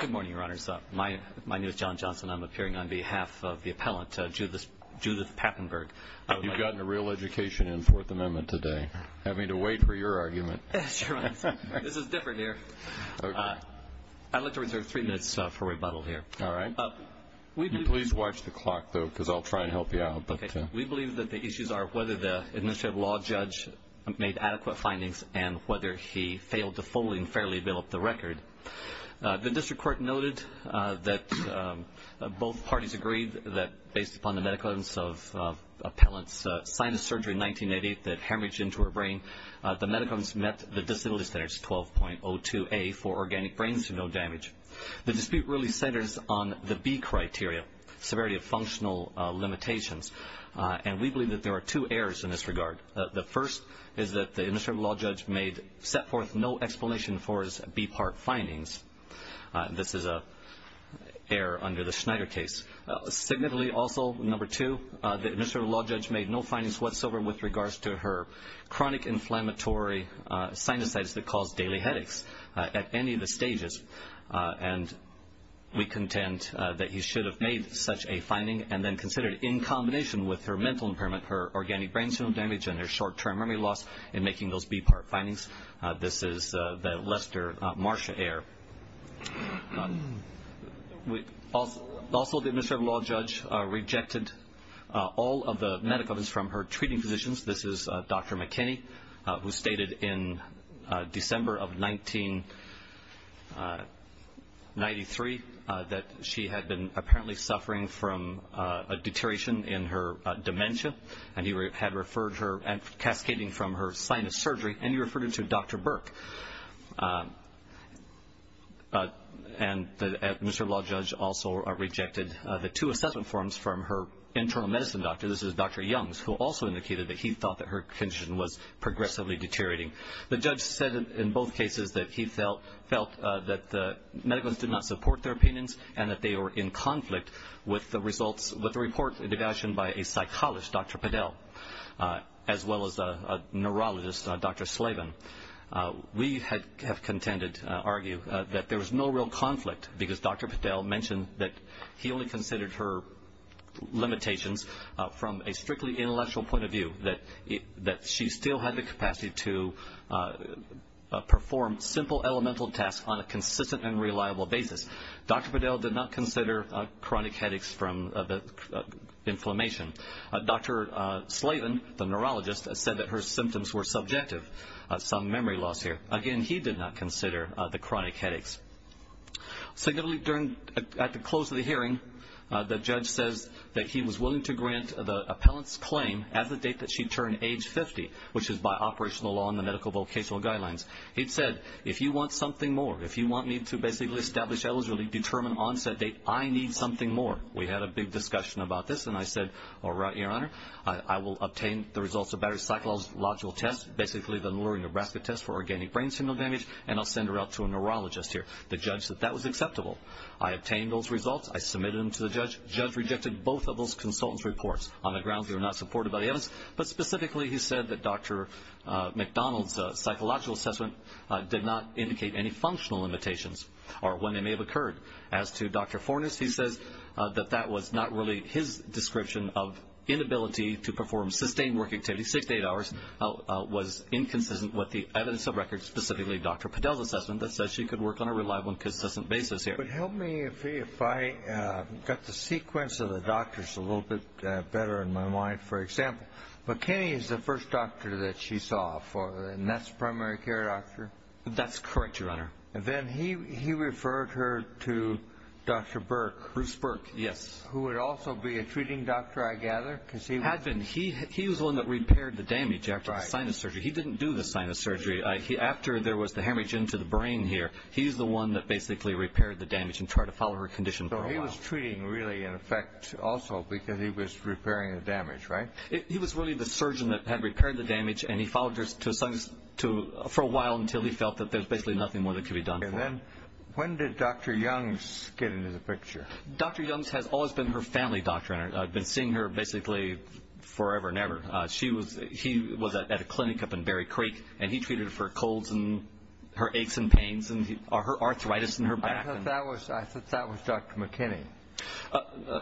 Good morning, Your Honors. My name is John Johnson. I'm appearing on behalf of the appellant, Judith Papenburg. You've gotten a real education in Fourth Amendment today, having to wait for your argument. This is different here. I'd like to reserve three minutes for rebuttal here. All right. Please watch the clock, though, because I'll try and help you out. We believe that the issues are whether the administrative law judge made adequate findings and whether he failed to fully and fairly develop the record. The district court noted that both parties agreed that, based upon the medical evidence of appellant's sinus surgery in 1988 that hemorrhaged into her brain, the medical evidence met the disability standards 12.02a for organic brains to no damage. The dispute really centers on the B criteria, severity of functional limitations, and we believe that there are two errors in this regard. The first is that the administrative law judge set forth no explanation for his B part findings. This is an error under the Schneider case. Significantly also, number two, the administrative law judge made no findings whatsoever with regards to her chronic inflammatory sinuses that caused daily headaches at any of the stages, and we contend that he should have made such a finding and then considered, in combination with her mental impairment, her organic brains to no damage and her short-term memory loss in making those B part findings. This is the Lester-Marsha error. Also, the administrative law judge rejected all of the medical evidence from her treating physicians. This is Dr. McKinney, who stated in December of 1993 that she had been apparently suffering from a deterioration in her dementia, and he had referred her, cascading from her sinus surgery, and he referred her to Dr. Burke. And the administrative law judge also rejected the two assessment forms from her internal medicine doctor. This is Dr. Youngs, who also indicated that he thought that her condition was progressively deteriorating. The judge said in both cases that he felt that the medicals did not support their opinions and that they were in conflict with the report devised by a psychologist, Dr. Padel, as well as a neurologist, Dr. Slavin. We have contended, argued, that there was no real conflict because Dr. Padel mentioned that he only considered her limitations from a strictly intellectual point of view, that she still had the capacity to perform simple elemental tasks on a consistent and reliable basis. Dr. Padel did not consider chronic headaches from the inflammation. Dr. Slavin, the neurologist, said that her symptoms were subjective, some memory loss here. Again, he did not consider the chronic headaches. Significantly, at the close of the hearing, the judge says that he was willing to grant the appellant's claim at the date that she turned age 50, which is by operational law and the medical vocational guidelines. He said, if you want something more, if you want me to basically establish eligibility, determine onset date, I need something more. We had a big discussion about this, and I said, all right, Your Honor, I will obtain the results of battery psychological tests, basically the Lurie, Nebraska test for organic brain signal damage, and I'll send her out to a neurologist here. The judge said that was acceptable. I obtained those results. I submitted them to the judge. The judge rejected both of those consultants' reports on the grounds they were not supported by the evidence, but specifically he said that Dr. McDonald's psychological assessment did not indicate any functional limitations or when they may have occurred. As to Dr. Fornes, he says that that was not really his description of inability to perform sustained work activity, was inconsistent with the evidence of records, specifically Dr. Podell's assessment, that says she could work on a reliable and consistent basis here. But help me if I got the sequence of the doctors a little bit better in my mind, for example. McKinney is the first doctor that she saw, and that's the primary care doctor? That's correct, Your Honor. And then he referred her to Dr. Burke. Bruce Burke. Yes. Who would also be a treating doctor, I gather, because he was the one that repaired her. He repaired the damage after the sinus surgery. He didn't do the sinus surgery. After there was the hemorrhage into the brain here, he's the one that basically repaired the damage and tried to follow her condition for a while. So he was treating really in effect also because he was repairing the damage, right? He was really the surgeon that had repaired the damage, and he followed her for a while until he felt that there was basically nothing more that could be done for her. And then when did Dr. Youngs get into the picture? Dr. Youngs has always been her family doctor, and I've been seeing her basically forever and ever. She was at a clinic up in Berry Creek, and he treated her colds and her aches and pains and her arthritis in her back. I thought that was Dr. McKinney.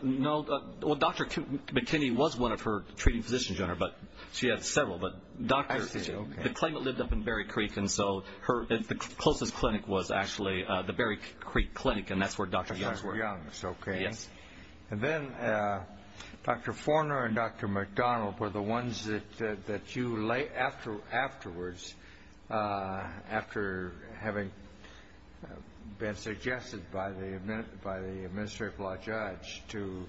No. Well, Dr. McKinney was one of her treating physicians, Your Honor, but she had several. But the claimant lived up in Berry Creek, and so the closest clinic was actually the Berry Creek Clinic, and that's where Dr. Youngs worked. That's where Dr. Youngs worked. Okay. Yes. And then Dr. Forner and Dr. McDonald were the ones that you later afterwards, after having been suggested by the administrative law judge to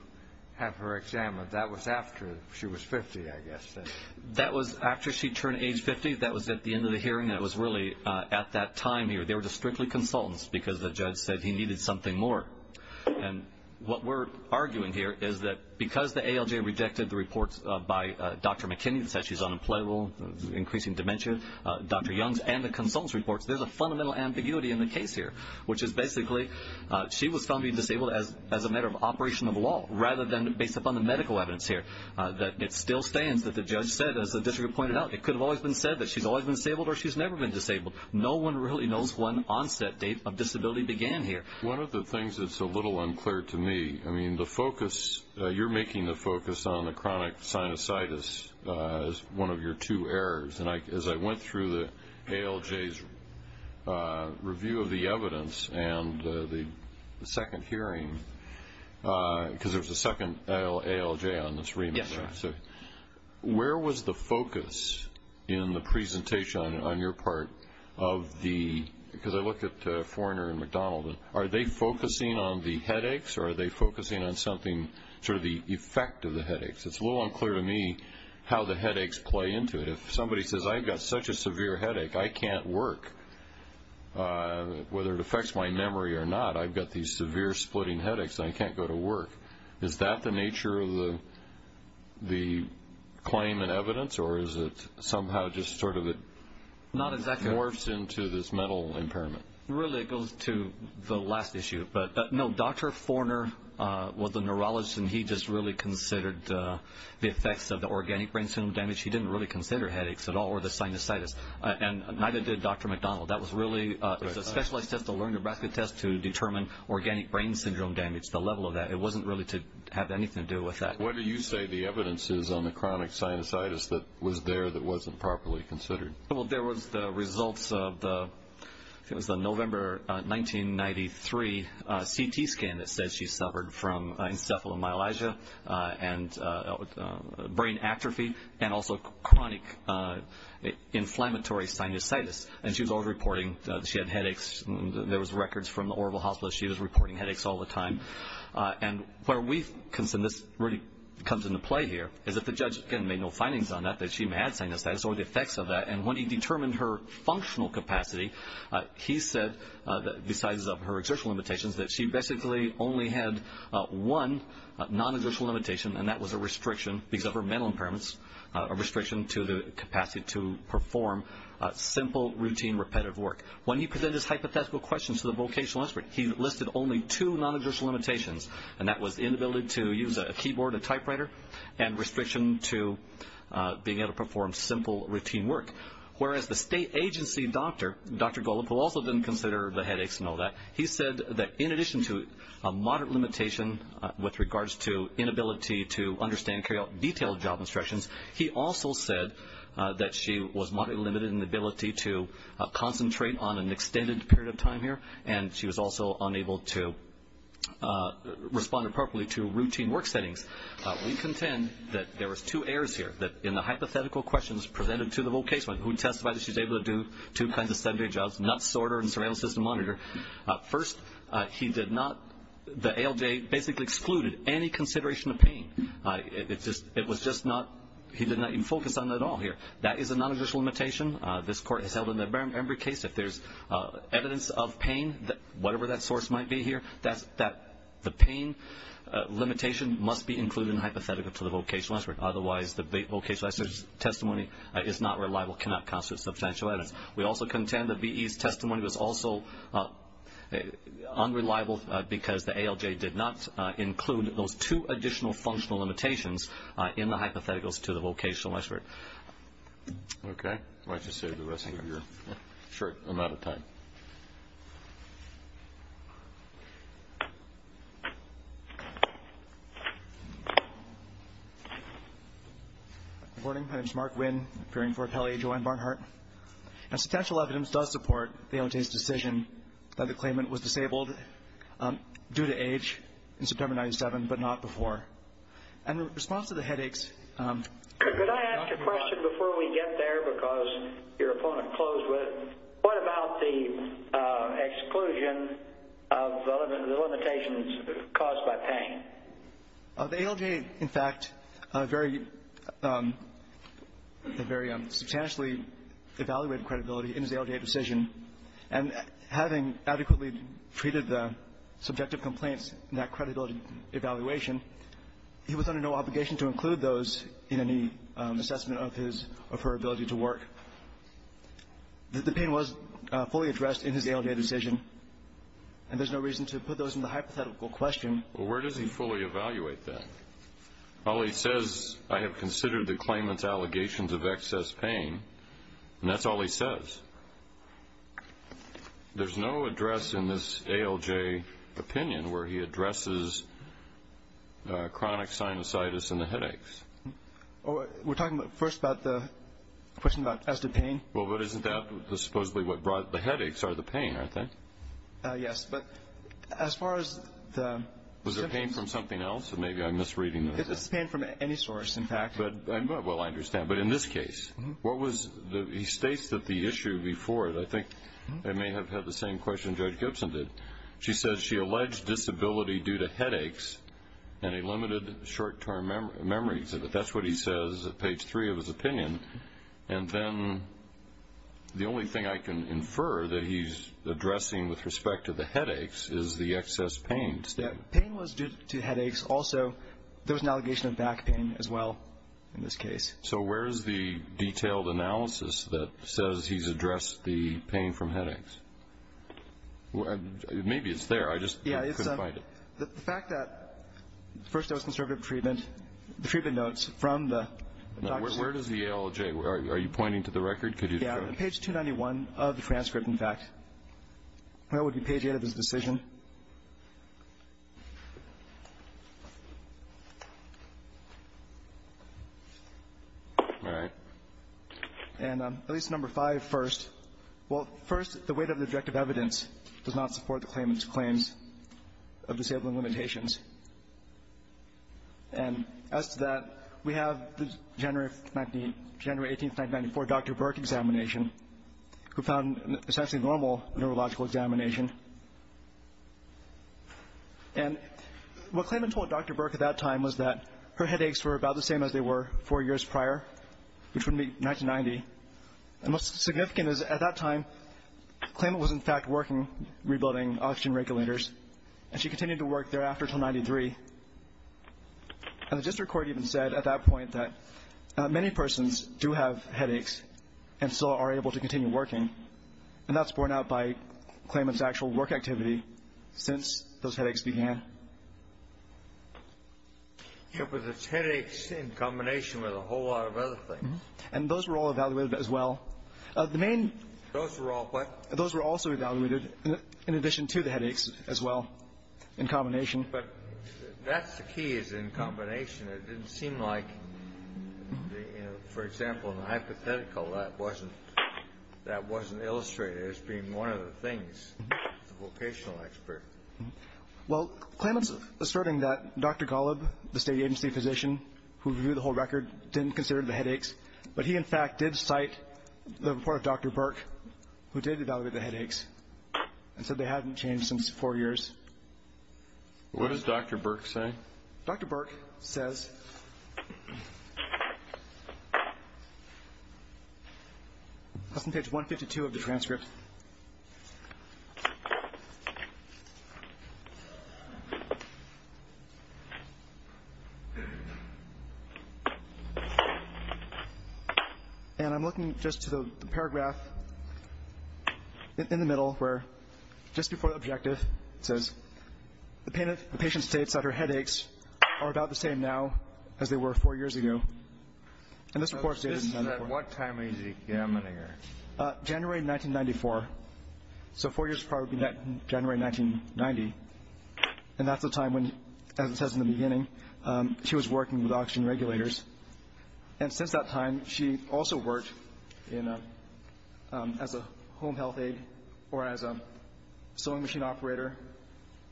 have her examined. That was after she was 50, I guess. That was after she turned age 50. That was at the end of the hearing. That was really at that time here. They were just strictly consultants because the judge said he needed something more. And what we're arguing here is that because the ALJ rejected the reports by Dr. McKinney that said she's unemployable, increasing dementia, Dr. Youngs, and the consultants reports, there's a fundamental ambiguity in the case here, which is basically she was found to be disabled as a matter of operation of law rather than based upon the medical evidence here. It still stands that the judge said, as the district pointed out, it could have always been said that she's always been disabled or she's never been disabled. No one really knows when onset date of disability began here. One of the things that's a little unclear to me, I mean, the focus, you're making the focus on the chronic sinusitis as one of your two errors. And as I went through the ALJ's review of the evidence and the second hearing, because there's a second ALJ on this remand, where was the focus in the presentation on your part of the, because I looked at Forner and McDonald, are they focusing on the headaches or are they focusing on something, sort of the effect of the headaches? It's a little unclear to me how the headaches play into it. If somebody says, I've got such a severe headache, I can't work, whether it affects my memory or not, I've got these severe splitting headaches and I can't go to work. Is that the nature of the claim and evidence or is it somehow just sort of morphs into this mental impairment? Really, it goes to the last issue. But, no, Dr. Forner was a neurologist and he just really considered the effects of the organic brain syndrome damage. He didn't really consider headaches at all or the sinusitis. And neither did Dr. McDonald. That was really a specialized test, a learned basket test to determine organic brain syndrome damage, the level of that. It wasn't really to have anything to do with that. What do you say the evidence is on the chronic sinusitis that was there that wasn't properly considered? Well, there was the results of the, I think it was the November 1993 CT scan that said she suffered from encephalomyelitis and brain atrophy and also chronic inflammatory sinusitis. And she was always reporting that she had headaches. There was records from the Orville Hospital that she was reporting headaches all the time. And where we consider this really comes into play here is that the judge, again, made no findings on that, that she had sinusitis, or the effects of that. And when he determined her functional capacity, he said, besides her exertion limitations, that she basically only had one non-exertion limitation and that was a restriction because of her mental impairments, a restriction to the capacity to perform simple, routine, repetitive work. When he presented his hypothetical questions to the vocational expert, he listed only two non-exertion limitations, and that was the inability to use a keyboard, a typewriter, and restriction to being able to perform simple, routine work. Whereas the state agency doctor, Dr. Golub, who also didn't consider the headaches and all that, he said that in addition to a moderate limitation with regards to inability to understand and carry out detailed job instructions, he also said that she was moderately limited in the ability to concentrate on an extended period of time here, and she was also unable to respond appropriately to routine work settings. We contend that there was two errors here, that in the hypothetical questions presented to the vocational expert, who testified that she was able to do two kinds of sedentary jobs, not sorter and surveillance system monitor. First, he did not, the ALJ basically excluded any consideration of pain. It was just not, he did not even focus on that at all here. That is a non-exertion limitation. This court has held in every case that there's evidence of pain, whatever that source might be here, that the pain limitation must be included in the hypothetical to the vocational expert. The testimony is not reliable, cannot constitute substantial evidence. We also contend that VE's testimony was also unreliable because the ALJ did not include those two additional functional limitations in the hypotheticals to the vocational expert. Okay. Why don't you save the rest of your short amount of time. Good morning. My name is Mark Winn, appearing for Kelly, Joanne Barnhart. Substantial evidence does support the ALJ's decision that the claimant was disabled due to age in September 1997, but not before. In response to the headaches, Could I ask a question before we get there because your opponent closed with, what about the exclusion of the limitations caused by pain? The ALJ, in fact, very substantially evaluated credibility in his ALJ decision, and having adequately treated the subjective complaints in that credibility evaluation, he was under no obligation to include those in any assessment of his or her ability to work. The pain was fully addressed in his ALJ decision, and there's no reason to put those in the hypothetical question. Well, where does he fully evaluate that? All he says, I have considered the claimant's allegations of excess pain, and that's all he says. There's no address in this ALJ opinion where he addresses chronic sinusitis and the headaches. We're talking first about the question as to pain? Well, but isn't that supposedly what brought the headaches are the pain, aren't they? Yes, but as far as the symptoms Was there pain from something else, or maybe I'm misreading this? It's pain from any source, in fact. Well, I understand, but in this case, he states that the issue before it, I think I may have had the same question Judge Gibson did. She says she alleged disability due to headaches and a limited short-term memory. That's what he says at page three of his opinion. And then the only thing I can infer that he's addressing with respect to the headaches is the excess pain. Pain was due to headaches. Also, there was an allegation of back pain as well in this case. So where is the detailed analysis that says he's addressed the pain from headaches? Maybe it's there, I just couldn't find it. Yeah, it's the fact that the first dose of conservative treatment, the treatment notes from the doctor. Now, where does the ALJ, are you pointing to the record? Could you show it? Yeah, on page 291 of the transcript, in fact. That would be page eight of his decision. All right. And at least number five first. Well, first, the weight of the objective evidence does not support the claimant's claims of disabling limitations. And as to that, we have the January 18, 1994, Dr. Burke examination, who found essentially normal neurological examination. And what claimant told Dr. Burke at that time was that her headaches were about the same as they were four years prior, which would be 1990. And what's significant is at that time, claimant was, in fact, working rebuilding oxygen regulators, and she continued to work thereafter until 1993. And the district court even said at that point that many persons do have headaches and still are able to continue working. And that's borne out by claimant's actual work activity since those headaches began. Yeah, but it's headaches in combination with a whole lot of other things. And those were all evaluated as well. The main — Those were all what? Those were also evaluated in addition to the headaches as well, in combination. But that's the key, is in combination. It didn't seem like, you know, for example, in the hypothetical, that wasn't illustrated as being one of the things, the vocational expert. Well, claimant's asserting that Dr. Golub, the state agency physician who reviewed the whole record, didn't consider the headaches, but he, in fact, did cite the report of Dr. Burke, who did evaluate the headaches, and said they hadn't changed since four years. What does Dr. Burke say? Dr. Burke says — that's on page 152 of the transcript. And I'm looking just to the paragraph in the middle where, just before the objective, it says, the patient states that her headaches are about the same now as they were four years ago. And this report states — At what time is he examining her? January 1994. So four years prior would be January 1990. And that's the time when, as it says in the beginning, she was working with oxygen regulators. And since that time, she also worked as a home health aide or as a sewing machine operator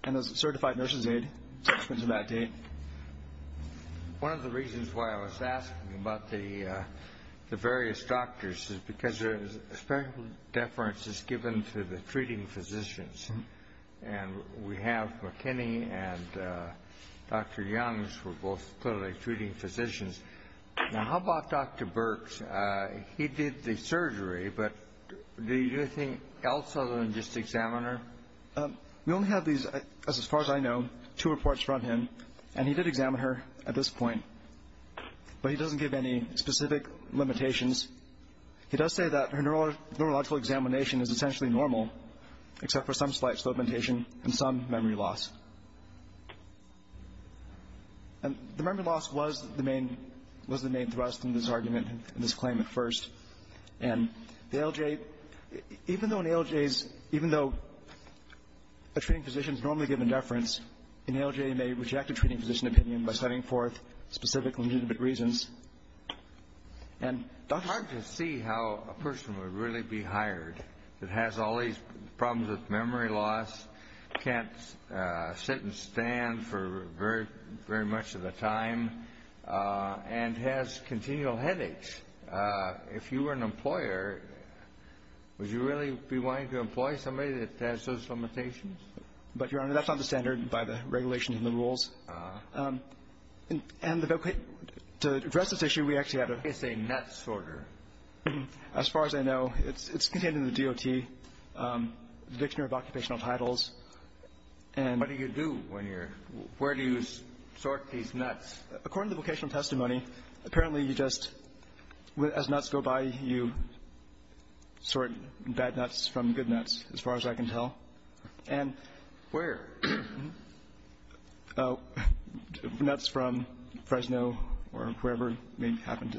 and as a certified nurse's aide up until that date. One of the reasons why I was asking about the various doctors is because there is a special deference that's given to the treating physicians. And we have McKinney and Dr. Youngs were both clearly treating physicians. Now, how about Dr. Burke? He did the surgery, but did he do anything else other than just examine her? We only have these, as far as I know, two reports from him. And he did examine her at this point, but he doesn't give any specific limitations. He does say that her neurological examination is essentially normal, except for some slight slow indentation and some memory loss. And the memory loss was the main thrust in this argument, in this claim at first. And the ALJ, even though an ALJ is — even though a treating physician is normally given deference, an ALJ may reject a treating physician opinion by citing forth specific legitimate reasons. And Dr. — It's hard to see how a person would really be hired that has all these problems with memory loss, can't sit and stand for very much of the time, and has continual headaches. If you were an employer, would you really be wanting to employ somebody that has those limitations? But, Your Honor, that's not the standard by the regulations and the rules. And the — to address this issue, we actually had a — It's a nutsorter. As far as I know, it's contained in the DOT, the Dictionary of Occupational Titles. And — What do you do when you're — where do you sort these nuts? According to the vocational testimony, apparently you just — as nuts go by, you sort bad nuts from good nuts, as far as I can tell. And — Where? Oh, nuts from Fresno or wherever may happen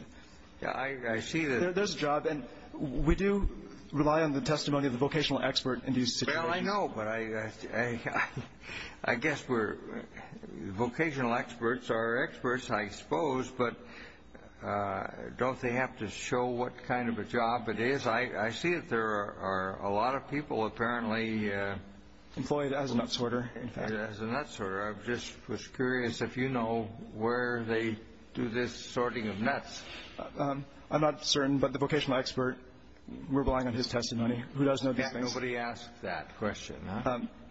to — I see that — There's a job. And we do rely on the testimony of the vocational expert in these situations. Well, I know. But I guess we're — vocational experts are experts, I suppose. But don't they have to show what kind of a job it is? I see that there are a lot of people apparently — Employed as a nutsorter, in fact. As a nutsorter. I just was curious if you know where they do this sorting of nuts. I'm not certain. But the vocational expert, we're relying on his testimony. Who does know these things? Yeah, nobody asked that question.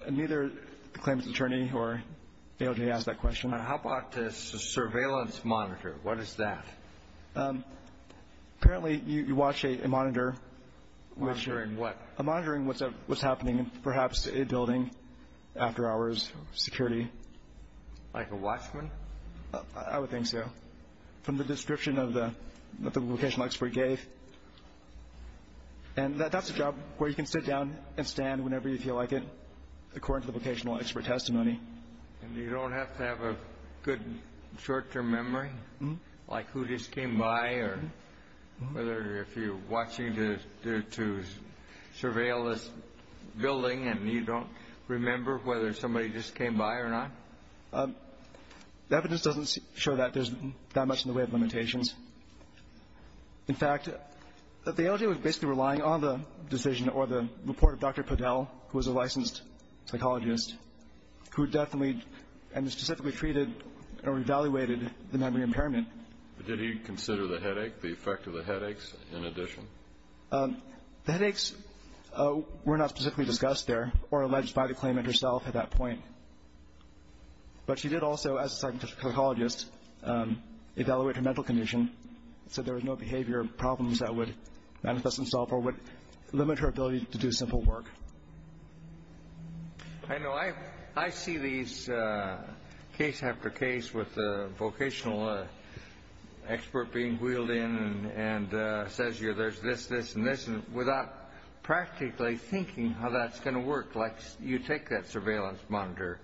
Neither the claimant's attorney or the ALJ asked that question. How about a surveillance monitor? What is that? Apparently, you watch a monitor, which — Monitoring what? Monitoring what's happening, perhaps a building, after hours, security. Like a watchman? I would think so. From the description that the vocational expert gave. And that's a job where you can sit down and stand whenever you feel like it, according to the vocational expert testimony. And you don't have to have a good short-term memory, like who just came by, or whether if you're watching to surveil this building and you don't remember whether somebody just came by or not. The evidence doesn't show that there's that much in the way of limitations. In fact, the ALJ was basically relying on the decision or the report of Dr. Podell, who was a licensed psychologist, who definitely and specifically treated or evaluated the memory impairment. Did he consider the headache, the effect of the headaches, in addition? The headaches were not specifically discussed there or alleged by the claimant herself at that point. But she did also, as a psychologist, evaluate her mental condition so there was no behavior problems that would manifest themselves or would limit her ability to do simple work. I know I see these case after case with the vocational expert being wheeled in and says there's this, this, and this, without practically thinking how that's going to work. Like you take that surveillance monitor.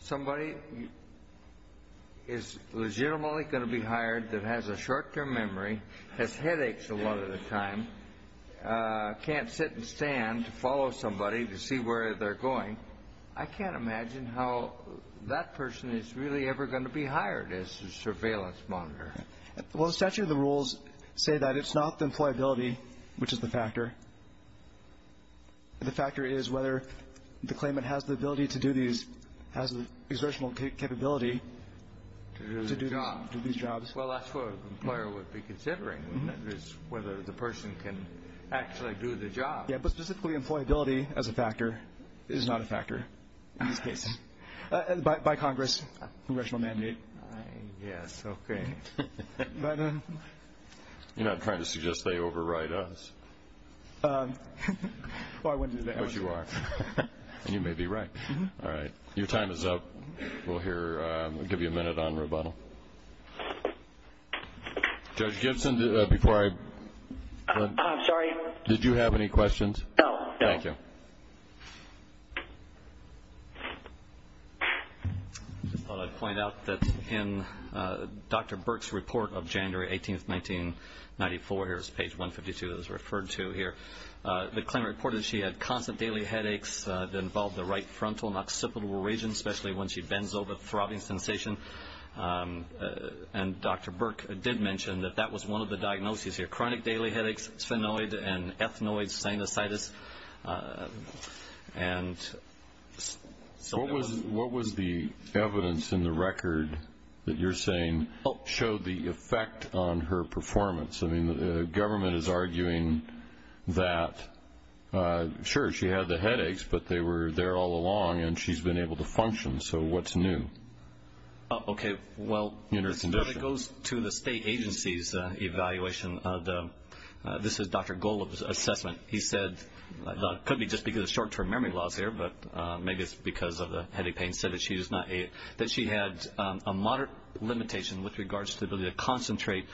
Somebody is legitimately going to be hired that has a short-term memory, has headaches a lot of the time, can't sit and stand to follow somebody to see where they're going. I can't imagine how that person is really ever going to be hired as a surveillance monitor. Well, essentially the rules say that it's not the employability, which is the factor. The factor is whether the claimant has the ability to do these, has the exertional capability to do these jobs. Well, that's what an employer would be considering is whether the person can actually do the job. Yeah, but specifically employability as a factor is not a factor in these cases. By Congress, congressional mandate. Yes, okay. You're not trying to suggest they overwrite us. Well, I wouldn't do that. But you are, and you may be right. All right. Your time is up. We'll give you a minute on rebuttal. Judge Gibson, did you have any questions? No, no. Thank you. I just thought I'd point out that in Dr. Burke's report of January 18, 1994, here's page 152 that was referred to here, the claimant reported she had constant daily headaches that involved the right frontal occipital region, especially when she bends over, throbbing sensation. And Dr. Burke did mention that that was one of the diagnoses here, chronic daily headaches, sphenoid and ethnoid sinusitis. What was the evidence in the record that you're saying showed the effect on her performance? I mean, the government is arguing that, sure, she had the headaches, but they were there all along and she's been able to function. So what's new? Okay. Well, it goes to the state agency's evaluation. This is Dr. Golub's assessment. He said it could be just because of short-term memory loss here, but maybe it's because of the headache pain. He said that she had a moderate limitation with regards to the ability to concentrate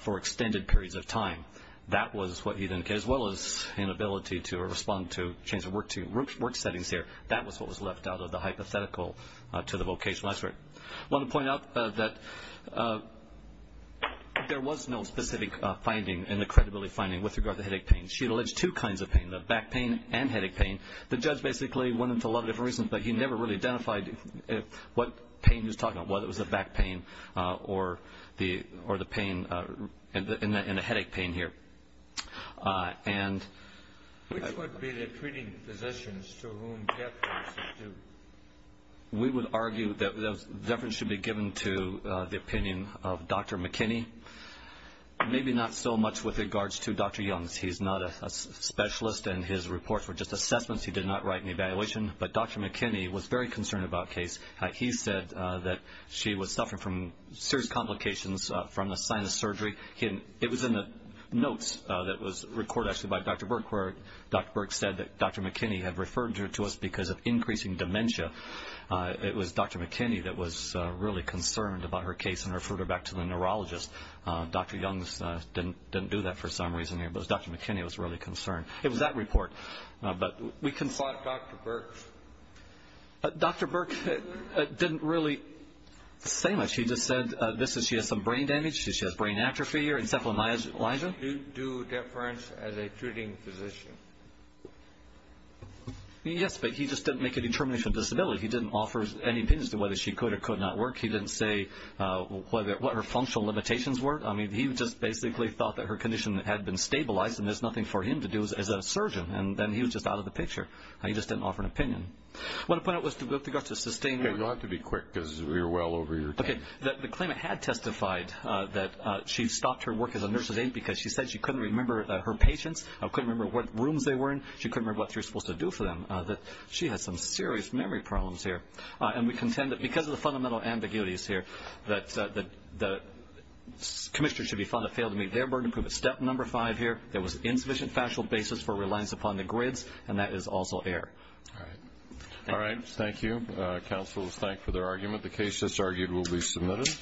for extended periods of time. That was what he indicated, as well as inability to respond to change of work settings here. That was what was left out of the hypothetical to the vocational expert. I want to point out that there was no specific finding in the credibility finding with regard to headache pain. She alleged two kinds of pain, the back pain and headache pain. The judge basically went into a lot of different reasons, but he never really identified what pain he was talking about, whether it was the back pain or the pain in the headache pain here. Which would be the treating physicians to whom deference is due? We would argue that deference should be given to the opinion of Dr. McKinney, maybe not so much with regards to Dr. Young's. He's not a specialist, and his reports were just assessments. He did not write an evaluation. But Dr. McKinney was very concerned about the case. He said that she was suffering from serious complications from the sinus surgery. It was in the notes that was recorded, actually, by Dr. Burke, where Dr. Burke said that Dr. McKinney had referred her to us because of increasing dementia. It was Dr. McKinney that was really concerned about her case and referred her back to the neurologist. Dr. Young didn't do that for some reason here, but Dr. McKinney was really concerned. It was that report. We consulted Dr. Burke. Dr. Burke didn't really say much. He just said she has some brain damage, she has brain atrophy or encephalomyelitis. Did he do deference as a treating physician? Yes, but he just didn't make a determination of disability. He didn't offer any opinions as to whether she could or could not work. He didn't say what her functional limitations were. He just basically thought that her condition had been stabilized, and there's nothing for him to do as a surgeon, and then he was just out of the picture. He just didn't offer an opinion. What I wanted to point out was in regards to sustaining You'll have to be quick because we're well over your time. Okay. The claimant had testified that she stopped her work as a nurse's aide because she said she couldn't remember her patients, couldn't remember what rooms they were in, she couldn't remember what she was supposed to do for them, that she had some serious memory problems here. And we contend that because of the fundamental ambiguities here, that the commissioner should be found to have failed to meet their burden. Step number five here, there was insufficient factual basis for reliance upon the grids, and that is also error. Thank you. All right. Thank you. Counsel is thanked for their argument. The case that's argued will be submitted.